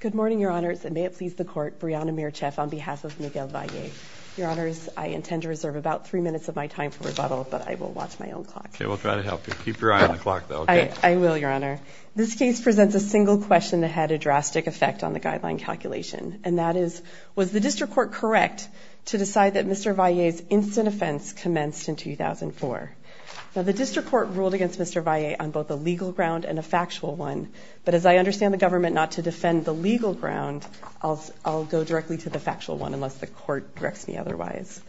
Good morning, Your Honors, and may it please the Court, Brianna Mircheff on behalf of Miguel Valle. Your Honors, I intend to reserve about three minutes of my time for rebuttal, but I will watch my own clock. Okay, we'll try to help you. Keep your eye on the clock, though. Okay. I will, Your Honor. This case presents a single question that had a drastic effect on the guideline calculation, and that is, was the District Court correct to decide that Mr. Valle's instant offense commenced in 2004? Now, the District Court ruled against Mr. Valle on both a legal ground and a factual one, but as I understand the government not to defend the legal ground, I'll go directly to the factual one unless the Court directs me otherwise.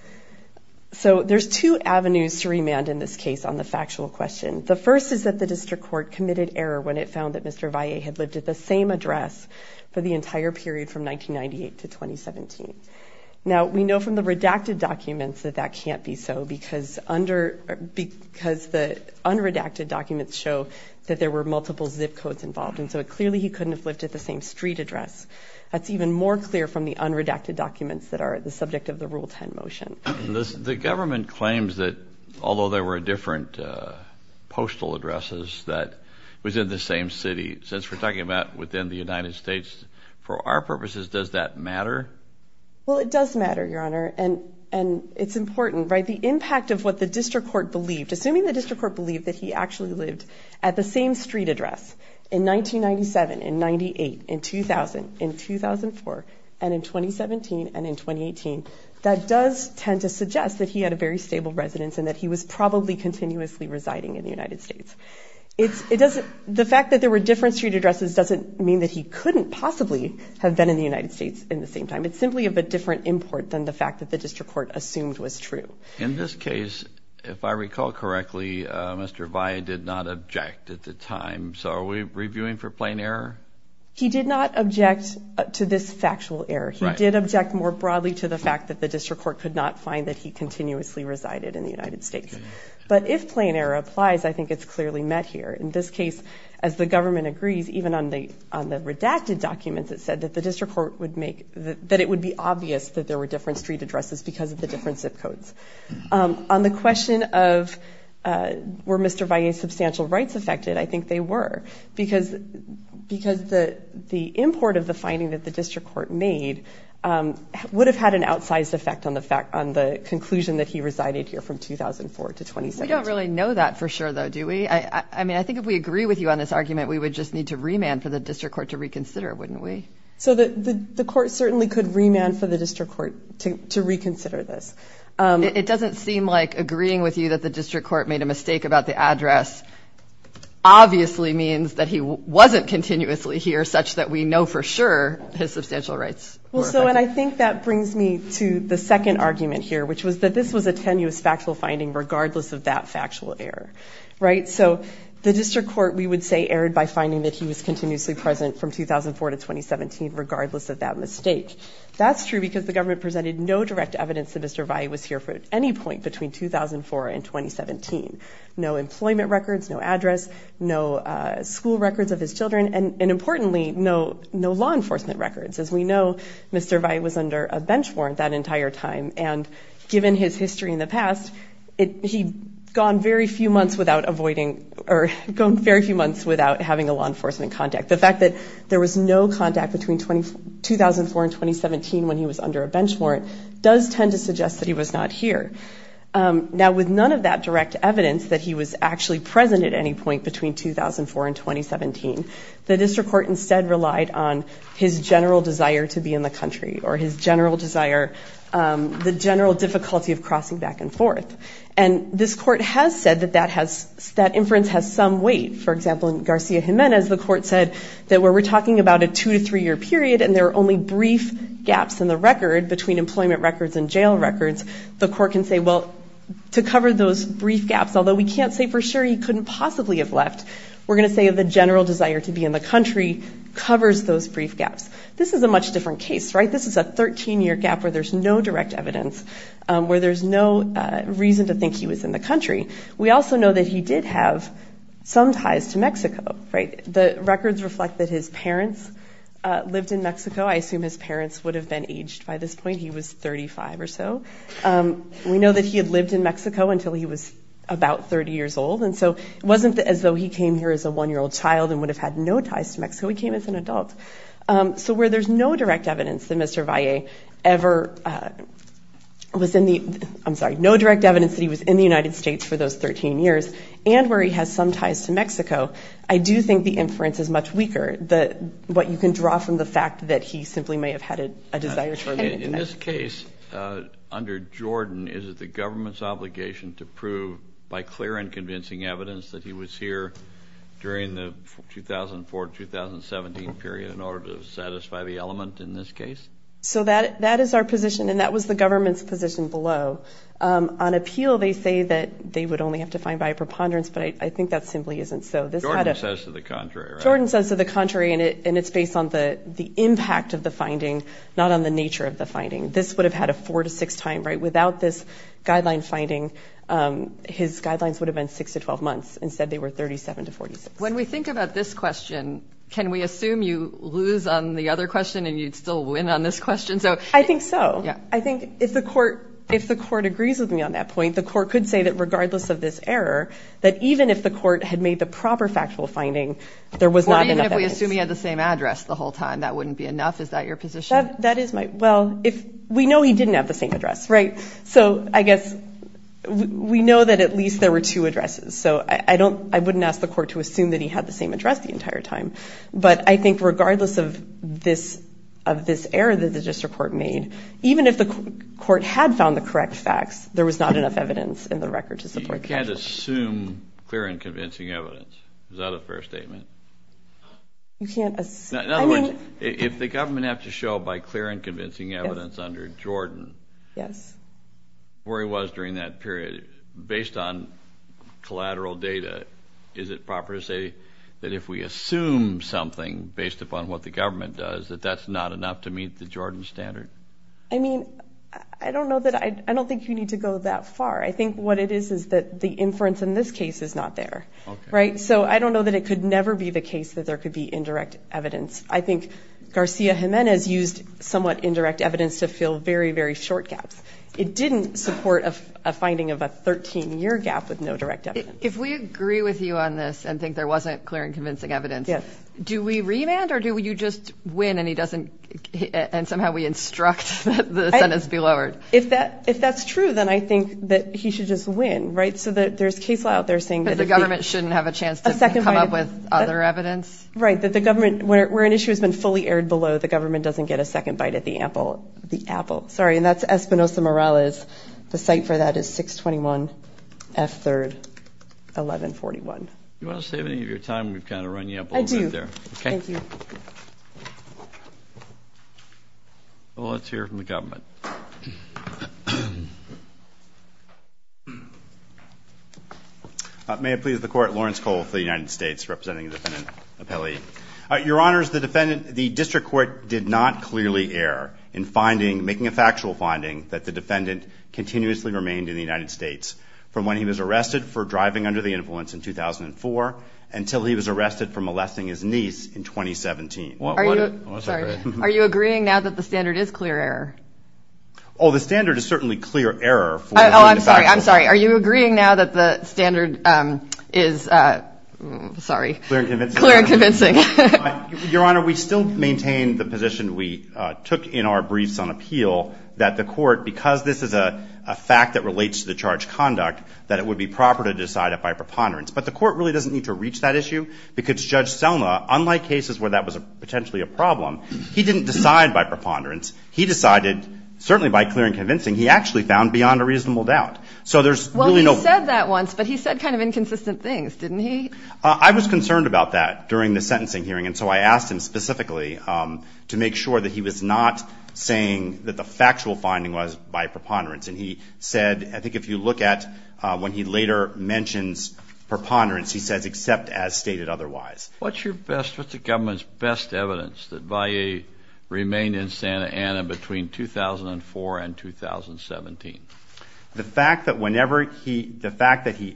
So there's two avenues to remand in this case on the factual question. The first is that the District Court committed error when it found that Mr. Valle had lived at the same address for the entire period from 1998 to 2017. Now, we know from the redacted documents that that can't be so because the unredacted documents show that there were multiple zip codes involved, and so clearly he couldn't have lived at the same street address. That's even more clear from the unredacted documents that are the subject of the Rule 10 motion. The government claims that although there were different postal addresses that was in the same city, since we're talking about within the United States, for our purposes, does that matter? Well, it does matter, Your Honor, and it's important, right? The impact of what the District Court believed, assuming the District Court believed that he actually lived at the same street address in 1997, in 98, in 2000, in 2004, and in 2017, and in 2018, that does tend to suggest that he had a very stable residence and that he was probably continuously residing in the United States. The fact that there were different street addresses doesn't mean that he couldn't possibly have been in the United States in the same time. It's simply of a different import than the fact that the District Court assumed was true. In this case, if I recall correctly, Mr. Valle did not object at the time, so are we reviewing for plain error? He did not object to this factual error. He did object more broadly to the fact that the District Court could not find that he continuously resided in the United States. But if plain error applies, I think it's clearly met here. In this case, as the government agrees, even on the redacted documents, it said that the District Court would make, that it would be obvious that there were different street addresses because of the different zip codes. On the question of were Mr. Valle's substantial rights affected, I think they were, because the import of the finding that the District Court made would have had an outsized effect on the fact, on the conclusion that he resided here from 2004 to 2017. We don't really know that for sure, though, do we? I mean, I think if we agree with you on this argument, we would just need to remand for the District Court to reconsider, wouldn't we? So the Court certainly could remand for the District Court to reconsider this. It doesn't seem like agreeing with you that the District Court made a mistake about the address obviously means that he wasn't continuously here, such that we know for sure his substantial rights were affected. Well, so, and I think that brings me to the second argument here, which was that this was a tenuous factual finding regardless of that factual error, right? So the District Court, we would say, erred by finding that he was continuously present from 2004 to 2017 regardless of that mistake. That's true because the government presented no direct evidence that Mr. Valle was here for any point between 2004 and 2017. No employment records, no address, no school records of his children, and importantly, no law enforcement records. As we know, Mr. Valle was under a bench warrant that entire time, and given his history in the past, he'd gone very few months without avoiding, or gone very few months without having a law enforcement contact. The fact that there was no contact between 2004 and 2017 when he was under a bench warrant does tend to suggest that he was not here. Now, with none of that direct evidence that he was actually present at any point between 2004 and 2017, the District Court instead relied on his general desire to be in the country or his general desire, the general difficulty of crossing back and forth. And this court has said that that inference has some weight. For example, in Garcia-Jimenez, the court said that where we're talking about a two- to three-year period and there are only brief gaps in the record between employment records and jail records, the court can say, well, to cover those brief gaps, although we can't say for sure he couldn't possibly have left, we're going to say that the general desire to be in the country covers those brief gaps. This is a much different case, right? This is a 13-year gap where there's no direct evidence, where there's no reason to think he was in the country. We also know that he did have some ties to Mexico, right? The records reflect that his parents lived in Mexico. I assume his parents would have been aged by this point. He was 35 or so. We know that he had lived in Mexico until he was about 30 years old. And so it wasn't as though he came here as a one-year-old child and would have had no ties to Mexico. He came as an adult. So where there's no direct evidence that Mr. Valle ever was in the – I'm sorry, no direct evidence that he was in the United States for those 13 years, and where he has some ties to Mexico, I do think the inference is much weaker than what you can draw from the fact that he simply may have had a desire to remain in the United States. Under Jordan, is it the government's obligation to prove by clear and convincing evidence that he was here during the 2004-2017 period in order to satisfy the element in this case? So that is our position, and that was the government's position below. On appeal, they say that they would only have to find by a preponderance, but I think that simply isn't so. Jordan says to the contrary, right? Jordan says to the contrary, and it's based on the impact of the finding, not on the nature of the finding. This would have had a 4-6 time, right? Without this guideline finding, his guidelines would have been 6-12 months. Instead, they were 37-46. When we think about this question, can we assume you lose on the other question and you'd still win on this question? I think so. Yeah. I think if the court agrees with me on that point, the court could say that regardless of this error, that even if the court had made the proper factual finding, there was not enough evidence. Or even if we assume he had the same address the whole time, that wouldn't be enough? Is that your position? That is my – well. We know he didn't have the same address, right? So I guess we know that at least there were two addresses. So I don't – I wouldn't ask the court to assume that he had the same address the entire time. But I think regardless of this error that the district court made, even if the court had found the correct facts, there was not enough evidence in the record to support that. You can't assume clear and convincing evidence. Is that a fair statement? You can't – In other words, if the government have to show by clear and convincing evidence under Jordan, where he was during that period, based on collateral data, is it proper to say that if we assume something based upon what the government does, that that's not enough to meet the Jordan standard? I mean, I don't know that – I don't think you need to go that far. I think what it is is that the inference in this case is not there, right? So I don't know that it could never be the case that there could be indirect evidence. I think Garcia-Jimenez used somewhat indirect evidence to fill very, very short gaps. It didn't support a finding of a 13-year gap with no direct evidence. If we agree with you on this and think there wasn't clear and convincing evidence, do we remand or do you just win and he doesn't – and somehow we instruct that the sentence be lowered? If that's true, then I think that he should just win, right? So there's case law out there saying that if he – That the government shouldn't have a chance to come up with other evidence? Right, that the government – where an issue has been fully aired below, the government doesn't get a second bite at the apple. The apple. Sorry, and that's Espinosa-Morales. The site for that is 621 F. 3rd, 1141. Do you want to save any of your time? We've kind of run you up a little bit there. I do. Okay. Thank you. Well, let's hear from the government. May it please the Court, Lawrence Cole for the United States, representing the defendant appellee. Your Honors, the defendant – the district court did not clearly err in finding – making a factual finding that the defendant continuously remained in the United States from when he was arrested for driving under the influence in 2004 until he was arrested for molesting his niece in 2017. What – Are you – Sorry. Okay. Are you agreeing now that the standard is clear error? Oh, the standard is certainly clear error for finding a factual finding. Oh, I'm sorry. I'm sorry. Are you agreeing now that the standard is – sorry. Clear and convincing. Clear and convincing. Your Honor, we still maintain the position we took in our briefs on appeal that the court, because this is a fact that relates to the charge conduct, that it would be proper to decide it by preponderance. But the court really doesn't need to reach that issue because Judge Selma, unlike cases where that was potentially a problem, he didn't decide by preponderance. He decided certainly by clear and convincing. He actually found beyond a reasonable doubt. So there's really no – Well, he said that once, but he said kind of inconsistent things, didn't he? I was concerned about that during the sentencing hearing, and so I asked him specifically to make sure that he was not saying that the factual finding was by preponderance. And he said – I think if you look at when he later mentions preponderance, he says except as stated otherwise. What's your best – what's the government's best evidence that Valley remained in Santa Ana between 2004 and 2017? The fact that whenever he – the fact that he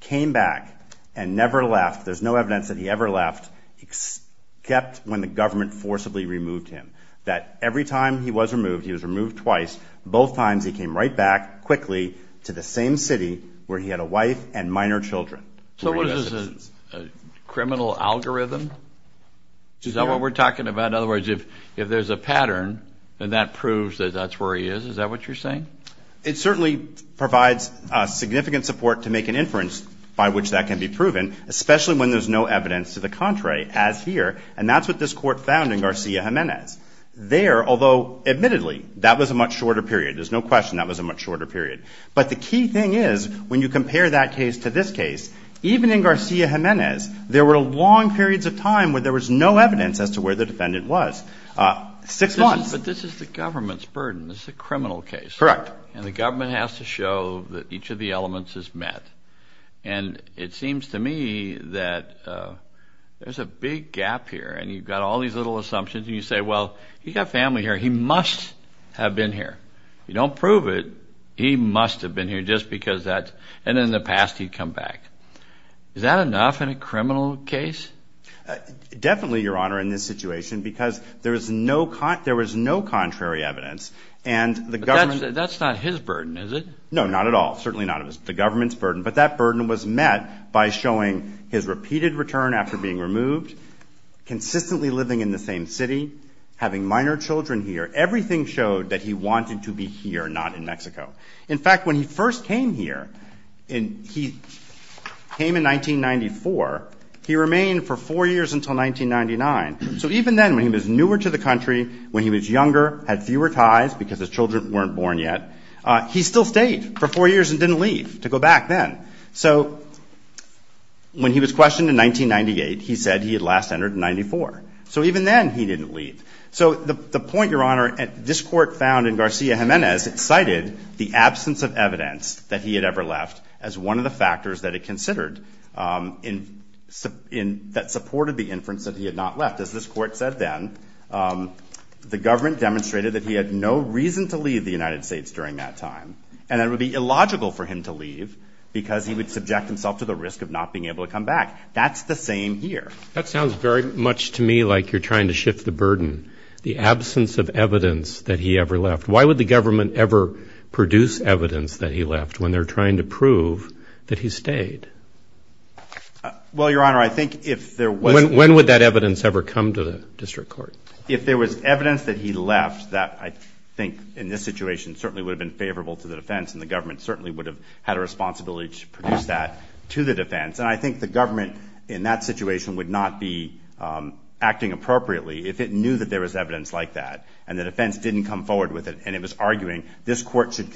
came back and never left – there's no evidence that he ever left except when the government forcibly removed him. That every time he was removed, he was removed twice, both times he came right back quickly to the same city where he had a wife and minor children. So what is this, a criminal algorithm? Is that what we're talking about? In other words, if there's a pattern, then that proves that that's where he is. Is that what you're saying? It certainly provides significant support to make an inference by which that can be proven, especially when there's no evidence to the contrary, as here. And that's what this Court found in Garcia-Gimenez. There, although admittedly, that was a much shorter period. There's no question that was a much shorter period. But the key thing is, when you compare that case to this case, even in Garcia-Gimenez, there were long periods of time where there was no evidence as to where the defendant was. Six months. But this is the government's burden. This is a criminal case. Correct. And the government has to show that each of the elements is met. And it seems to me that there's a big gap here, and you've got all these little assumptions, and you say, well, he's got family here. He must have been here. If you don't prove it, he must have been here just because that's, and in the past, he'd come back. Is that enough in a criminal case? Definitely, Your Honor, in this situation, because there was no contrary evidence. And the government... But that's not his burden, is it? No, not at all. Certainly not. It's the government's burden. But that burden was met by showing his repeated return after being removed, consistently living in the same city, having minor children here. Everything showed that he wanted to be here, not in Mexico. In fact, when he first came here, he came in 1994. He remained for four years until 1999. So even then, when he was newer to the country, when he was younger, had fewer ties because his children weren't born yet, he still stayed for four years and didn't leave to go back then. So when he was questioned in 1998, he said he had last entered in 94. So even then, he didn't leave. So the point, Your Honor, this court found in Garcia-Gimenez, it cited the absence of evidence that he had ever left as one of the factors that it considered that supported the inference that he had not left. As this court said then, the government demonstrated that he had no reason to leave the United States during that time, and it would be illogical for him to leave because he would subject himself to the risk of not being able to come back. That's the same here. That sounds very much to me like you're trying to shift the burden, the absence of evidence that he ever left. Why would the government ever produce evidence that he left when they're trying to prove that he stayed? Well, Your Honor, I think if there was... When would that evidence ever come to the district court? If there was evidence that he left that I think in this situation certainly would have been favorable to the defense and the government certainly would have had a responsibility to produce that to the defense. And I think the government in that situation would not be acting appropriately if it knew that there was evidence like that and the defense didn't come forward with it and it was arguing this court should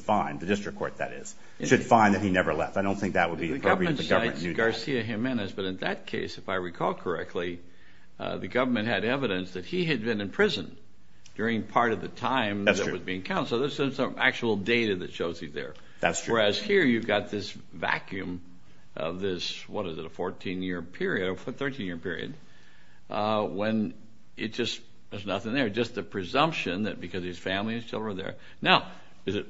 find, the district court that is, should find that he never left. I don't think that would be appropriate for the government to do that. The government cites Garcia-Gimenez, but in that case, if I recall correctly, the government had evidence that he had been in prison during part of the time that was being counseled. So there's some actual data that shows he's there. That's true. Whereas here, you've got this vacuum of this, what is it, a 14-year period or 13-year period when it just, there's nothing there. Just the presumption that because his family is still there. Now, is it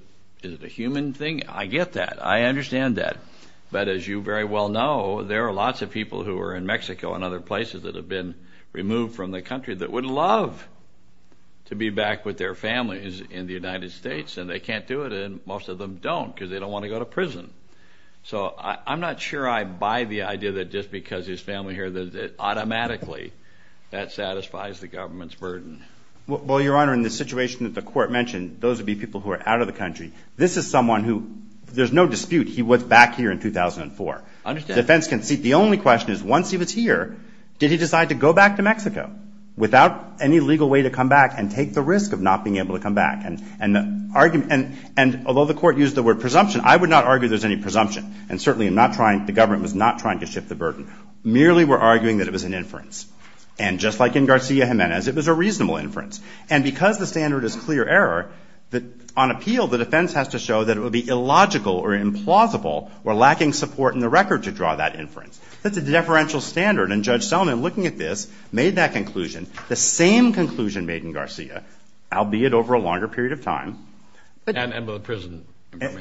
a human thing? I get that. I understand that. But as you very well know, there are lots of people who are in Mexico and other places that have been removed from the country that would love to be back with their families in the United States and they can't do it and most of them don't because they don't want to go to prison. So I'm not sure I buy the idea that just because his family is here that automatically that satisfies the government's burden. Well, Your Honor, in the situation that the court mentioned, those would be people who are out of the country. This is someone who, there's no dispute, he was back here in 2004. I understand. Defense can see. The only question is, once he was here, did he decide to go back to Mexico without any legal way to come back and take the risk of not being able to come back? And although the court used the word presumption, I would not argue there's any presumption. And certainly I'm not trying, the government was not trying to shift the burden. Merely we're arguing that it was an inference. And just like in Garcia-Gimenez, it was a reasonable inference. And because the standard is clear error, on appeal, the defense has to show that it would be illogical or implausible or lacking support in the record to draw that inference. That's a deferential standard. And Judge Selman, looking at this, made that conclusion, the same conclusion made in Garcia, albeit over a longer period of time. And with the prison.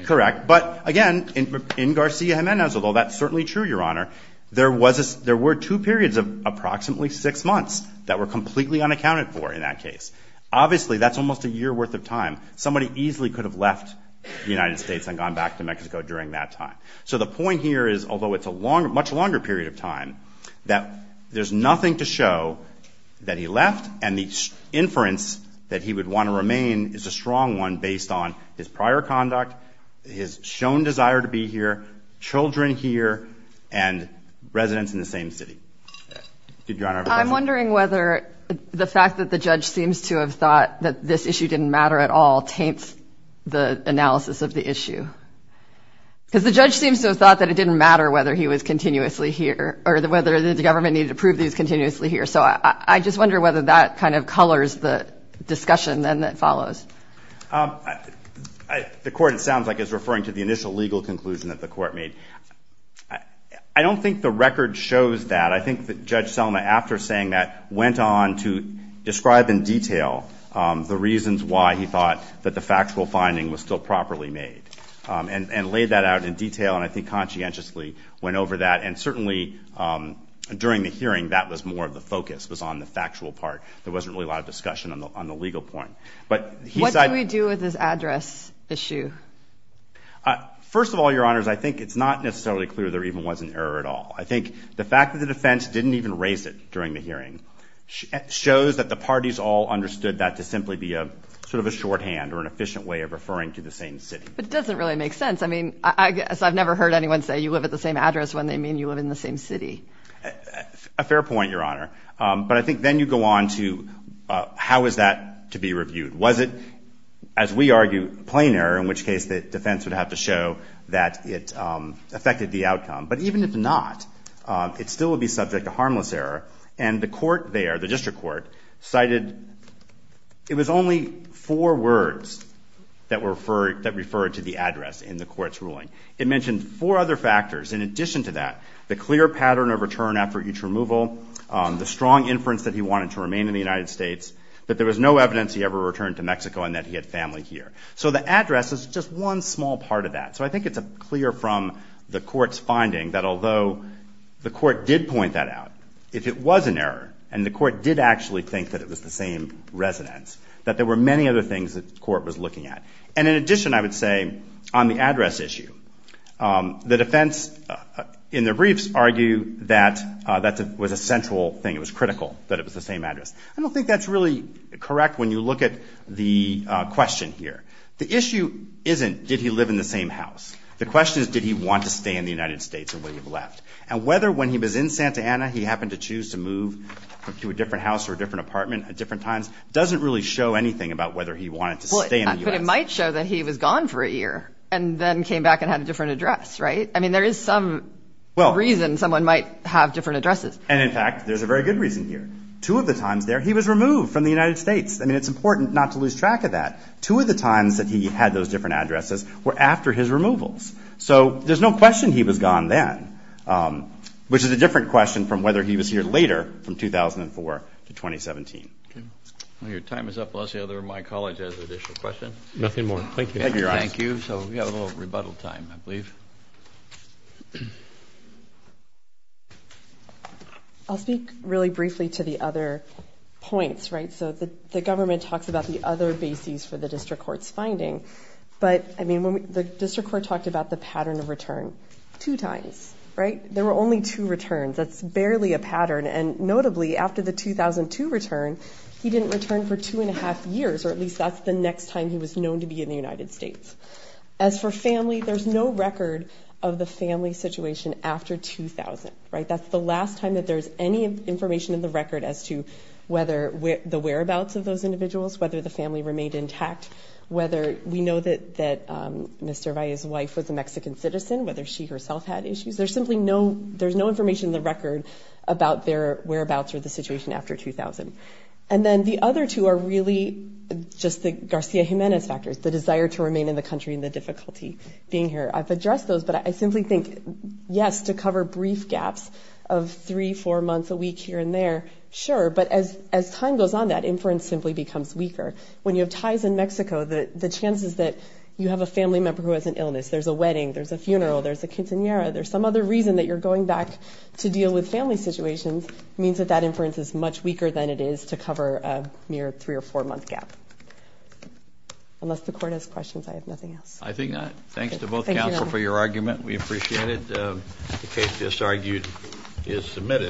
Correct. But again, in Garcia-Gimenez, although that's certainly true, Your Honor, there were two periods of approximately six months that were completely unaccounted for in that case. Obviously, that's almost a year worth of time. Somebody easily could have left the United States and gone back to Mexico during that time. So the point here is, although it's a much longer period of time, that there's nothing to show that he left and the inference that he would want to remain is a strong one based on his prior conduct, his shown desire to be here, children here, and residents in the same city. Did Your Honor have a question? I'm wondering whether the fact that the judge seems to have thought that this issue didn't matter at all taints the analysis of the issue. Because the judge seems to have thought that it didn't matter whether he was continuously here or whether the government needed to prove these continuously here. So I just wonder whether that kind of colors the discussion then that follows. The court, it sounds like, is referring to the initial legal conclusion that the court made. I don't think the record shows that. I think that Judge Selma, after saying that, went on to describe in detail the reasons why he thought that the factual finding was still properly made. And laid that out in detail, and I think conscientiously went over that. And certainly during the hearing, that was more of the focus, was on the factual part. There wasn't really a lot of discussion on the legal point. But he said... What do we do with this address issue? First of all, Your Honors, I think it's not necessarily clear there even was an error at all. I think the fact that the defense didn't even raise it during the hearing shows that the parties all understood that to simply be a sort of a shorthand or an efficient way of referring to the same city. But it doesn't really make sense. I mean, I guess I've never heard anyone say you live at the same address when they mean you live in the same city. A fair point, Your Honor. But I think then you go on to how is that to be reviewed? Was it, as we argue, plain error, in which case the defense would have to show that it affected the outcome? But even if not, it still would be subject to harmless error. And the court there, the district court, cited... It was only four words that referred to the address in the court's ruling. It mentioned four other factors. In addition to that, the clear pattern of return after each removal, the strong inference that he wanted to remain in the United States, that there was no evidence he ever returned to Mexico and that he had family here. So the address is just one small part of that. So I think it's clear from the court's finding that although the court did point that out, if it was an error, and the court did actually think that it was the same residence, that there were many other things that the court was looking at. And in addition, I would say, on the address issue, the defense, in their briefs, argue that that was a central thing, it was critical that it was the same address. I don't think that's really correct when you look at the question here. The issue isn't did he live in the same house. The question is did he want to stay in the United States and leave left. And whether when he was in Santa Ana he happened to choose to move to a different house or a different apartment at different times doesn't really show anything about whether he wanted to stay in the U.S. But it might show that he was gone for a year and then came back and had a different address, right? I mean, there is some reason someone might have different addresses. And in fact, there's a very good reason here. Two of the times there, he was removed from the United States. I mean, it's important not to lose track of that. Two of the times that he had those different addresses were after his removals. So there's no question he was gone then, which is a different question from whether he was here later from 2004 to 2017. Okay. Well, your time is up. Unless the other of my colleagues has an additional question. Nothing more. Thank you. Thank you. Thank you. So we have a little rebuttal time, I believe. I'll speak really briefly to the other points, right? So the government talks about the other bases for the district court's finding. But I mean, the district court talked about the pattern of return two times, right? There were only two returns. That's barely a pattern. And notably, after the 2002 return, he didn't return for two and a half years, or at least that's the next time he was known to be in the United States. As for family, there's no record of the family situation after 2000, right? That's the last time that there's any information in the record as to whether the whereabouts of those individuals, whether the family remained intact, whether we know that Mr. Valle's wife was a Mexican citizen, whether she herself had issues. There's simply no, there's no information in the record about their whereabouts or the situation after 2000. And then the other two are really just the Garcia Jimenez factors, the desire to remain in the country and the difficulty being here. I've addressed those, but I simply think, yes, to cover brief gaps of three, four months a week here and there, sure. But as time goes on, that inference simply becomes weaker. When you have ties in Mexico, the chances that you have a family member who has an illness, there's a wedding, there's a funeral, there's a quinceañera, there's some other reason that you're going back to deal with family situations means that that inference is much weaker than it is to cover a mere three or four month gap. Unless the court has questions, I have nothing else. I think not. Thanks to both counsel for your argument. We appreciate it. The case just argued is submitted.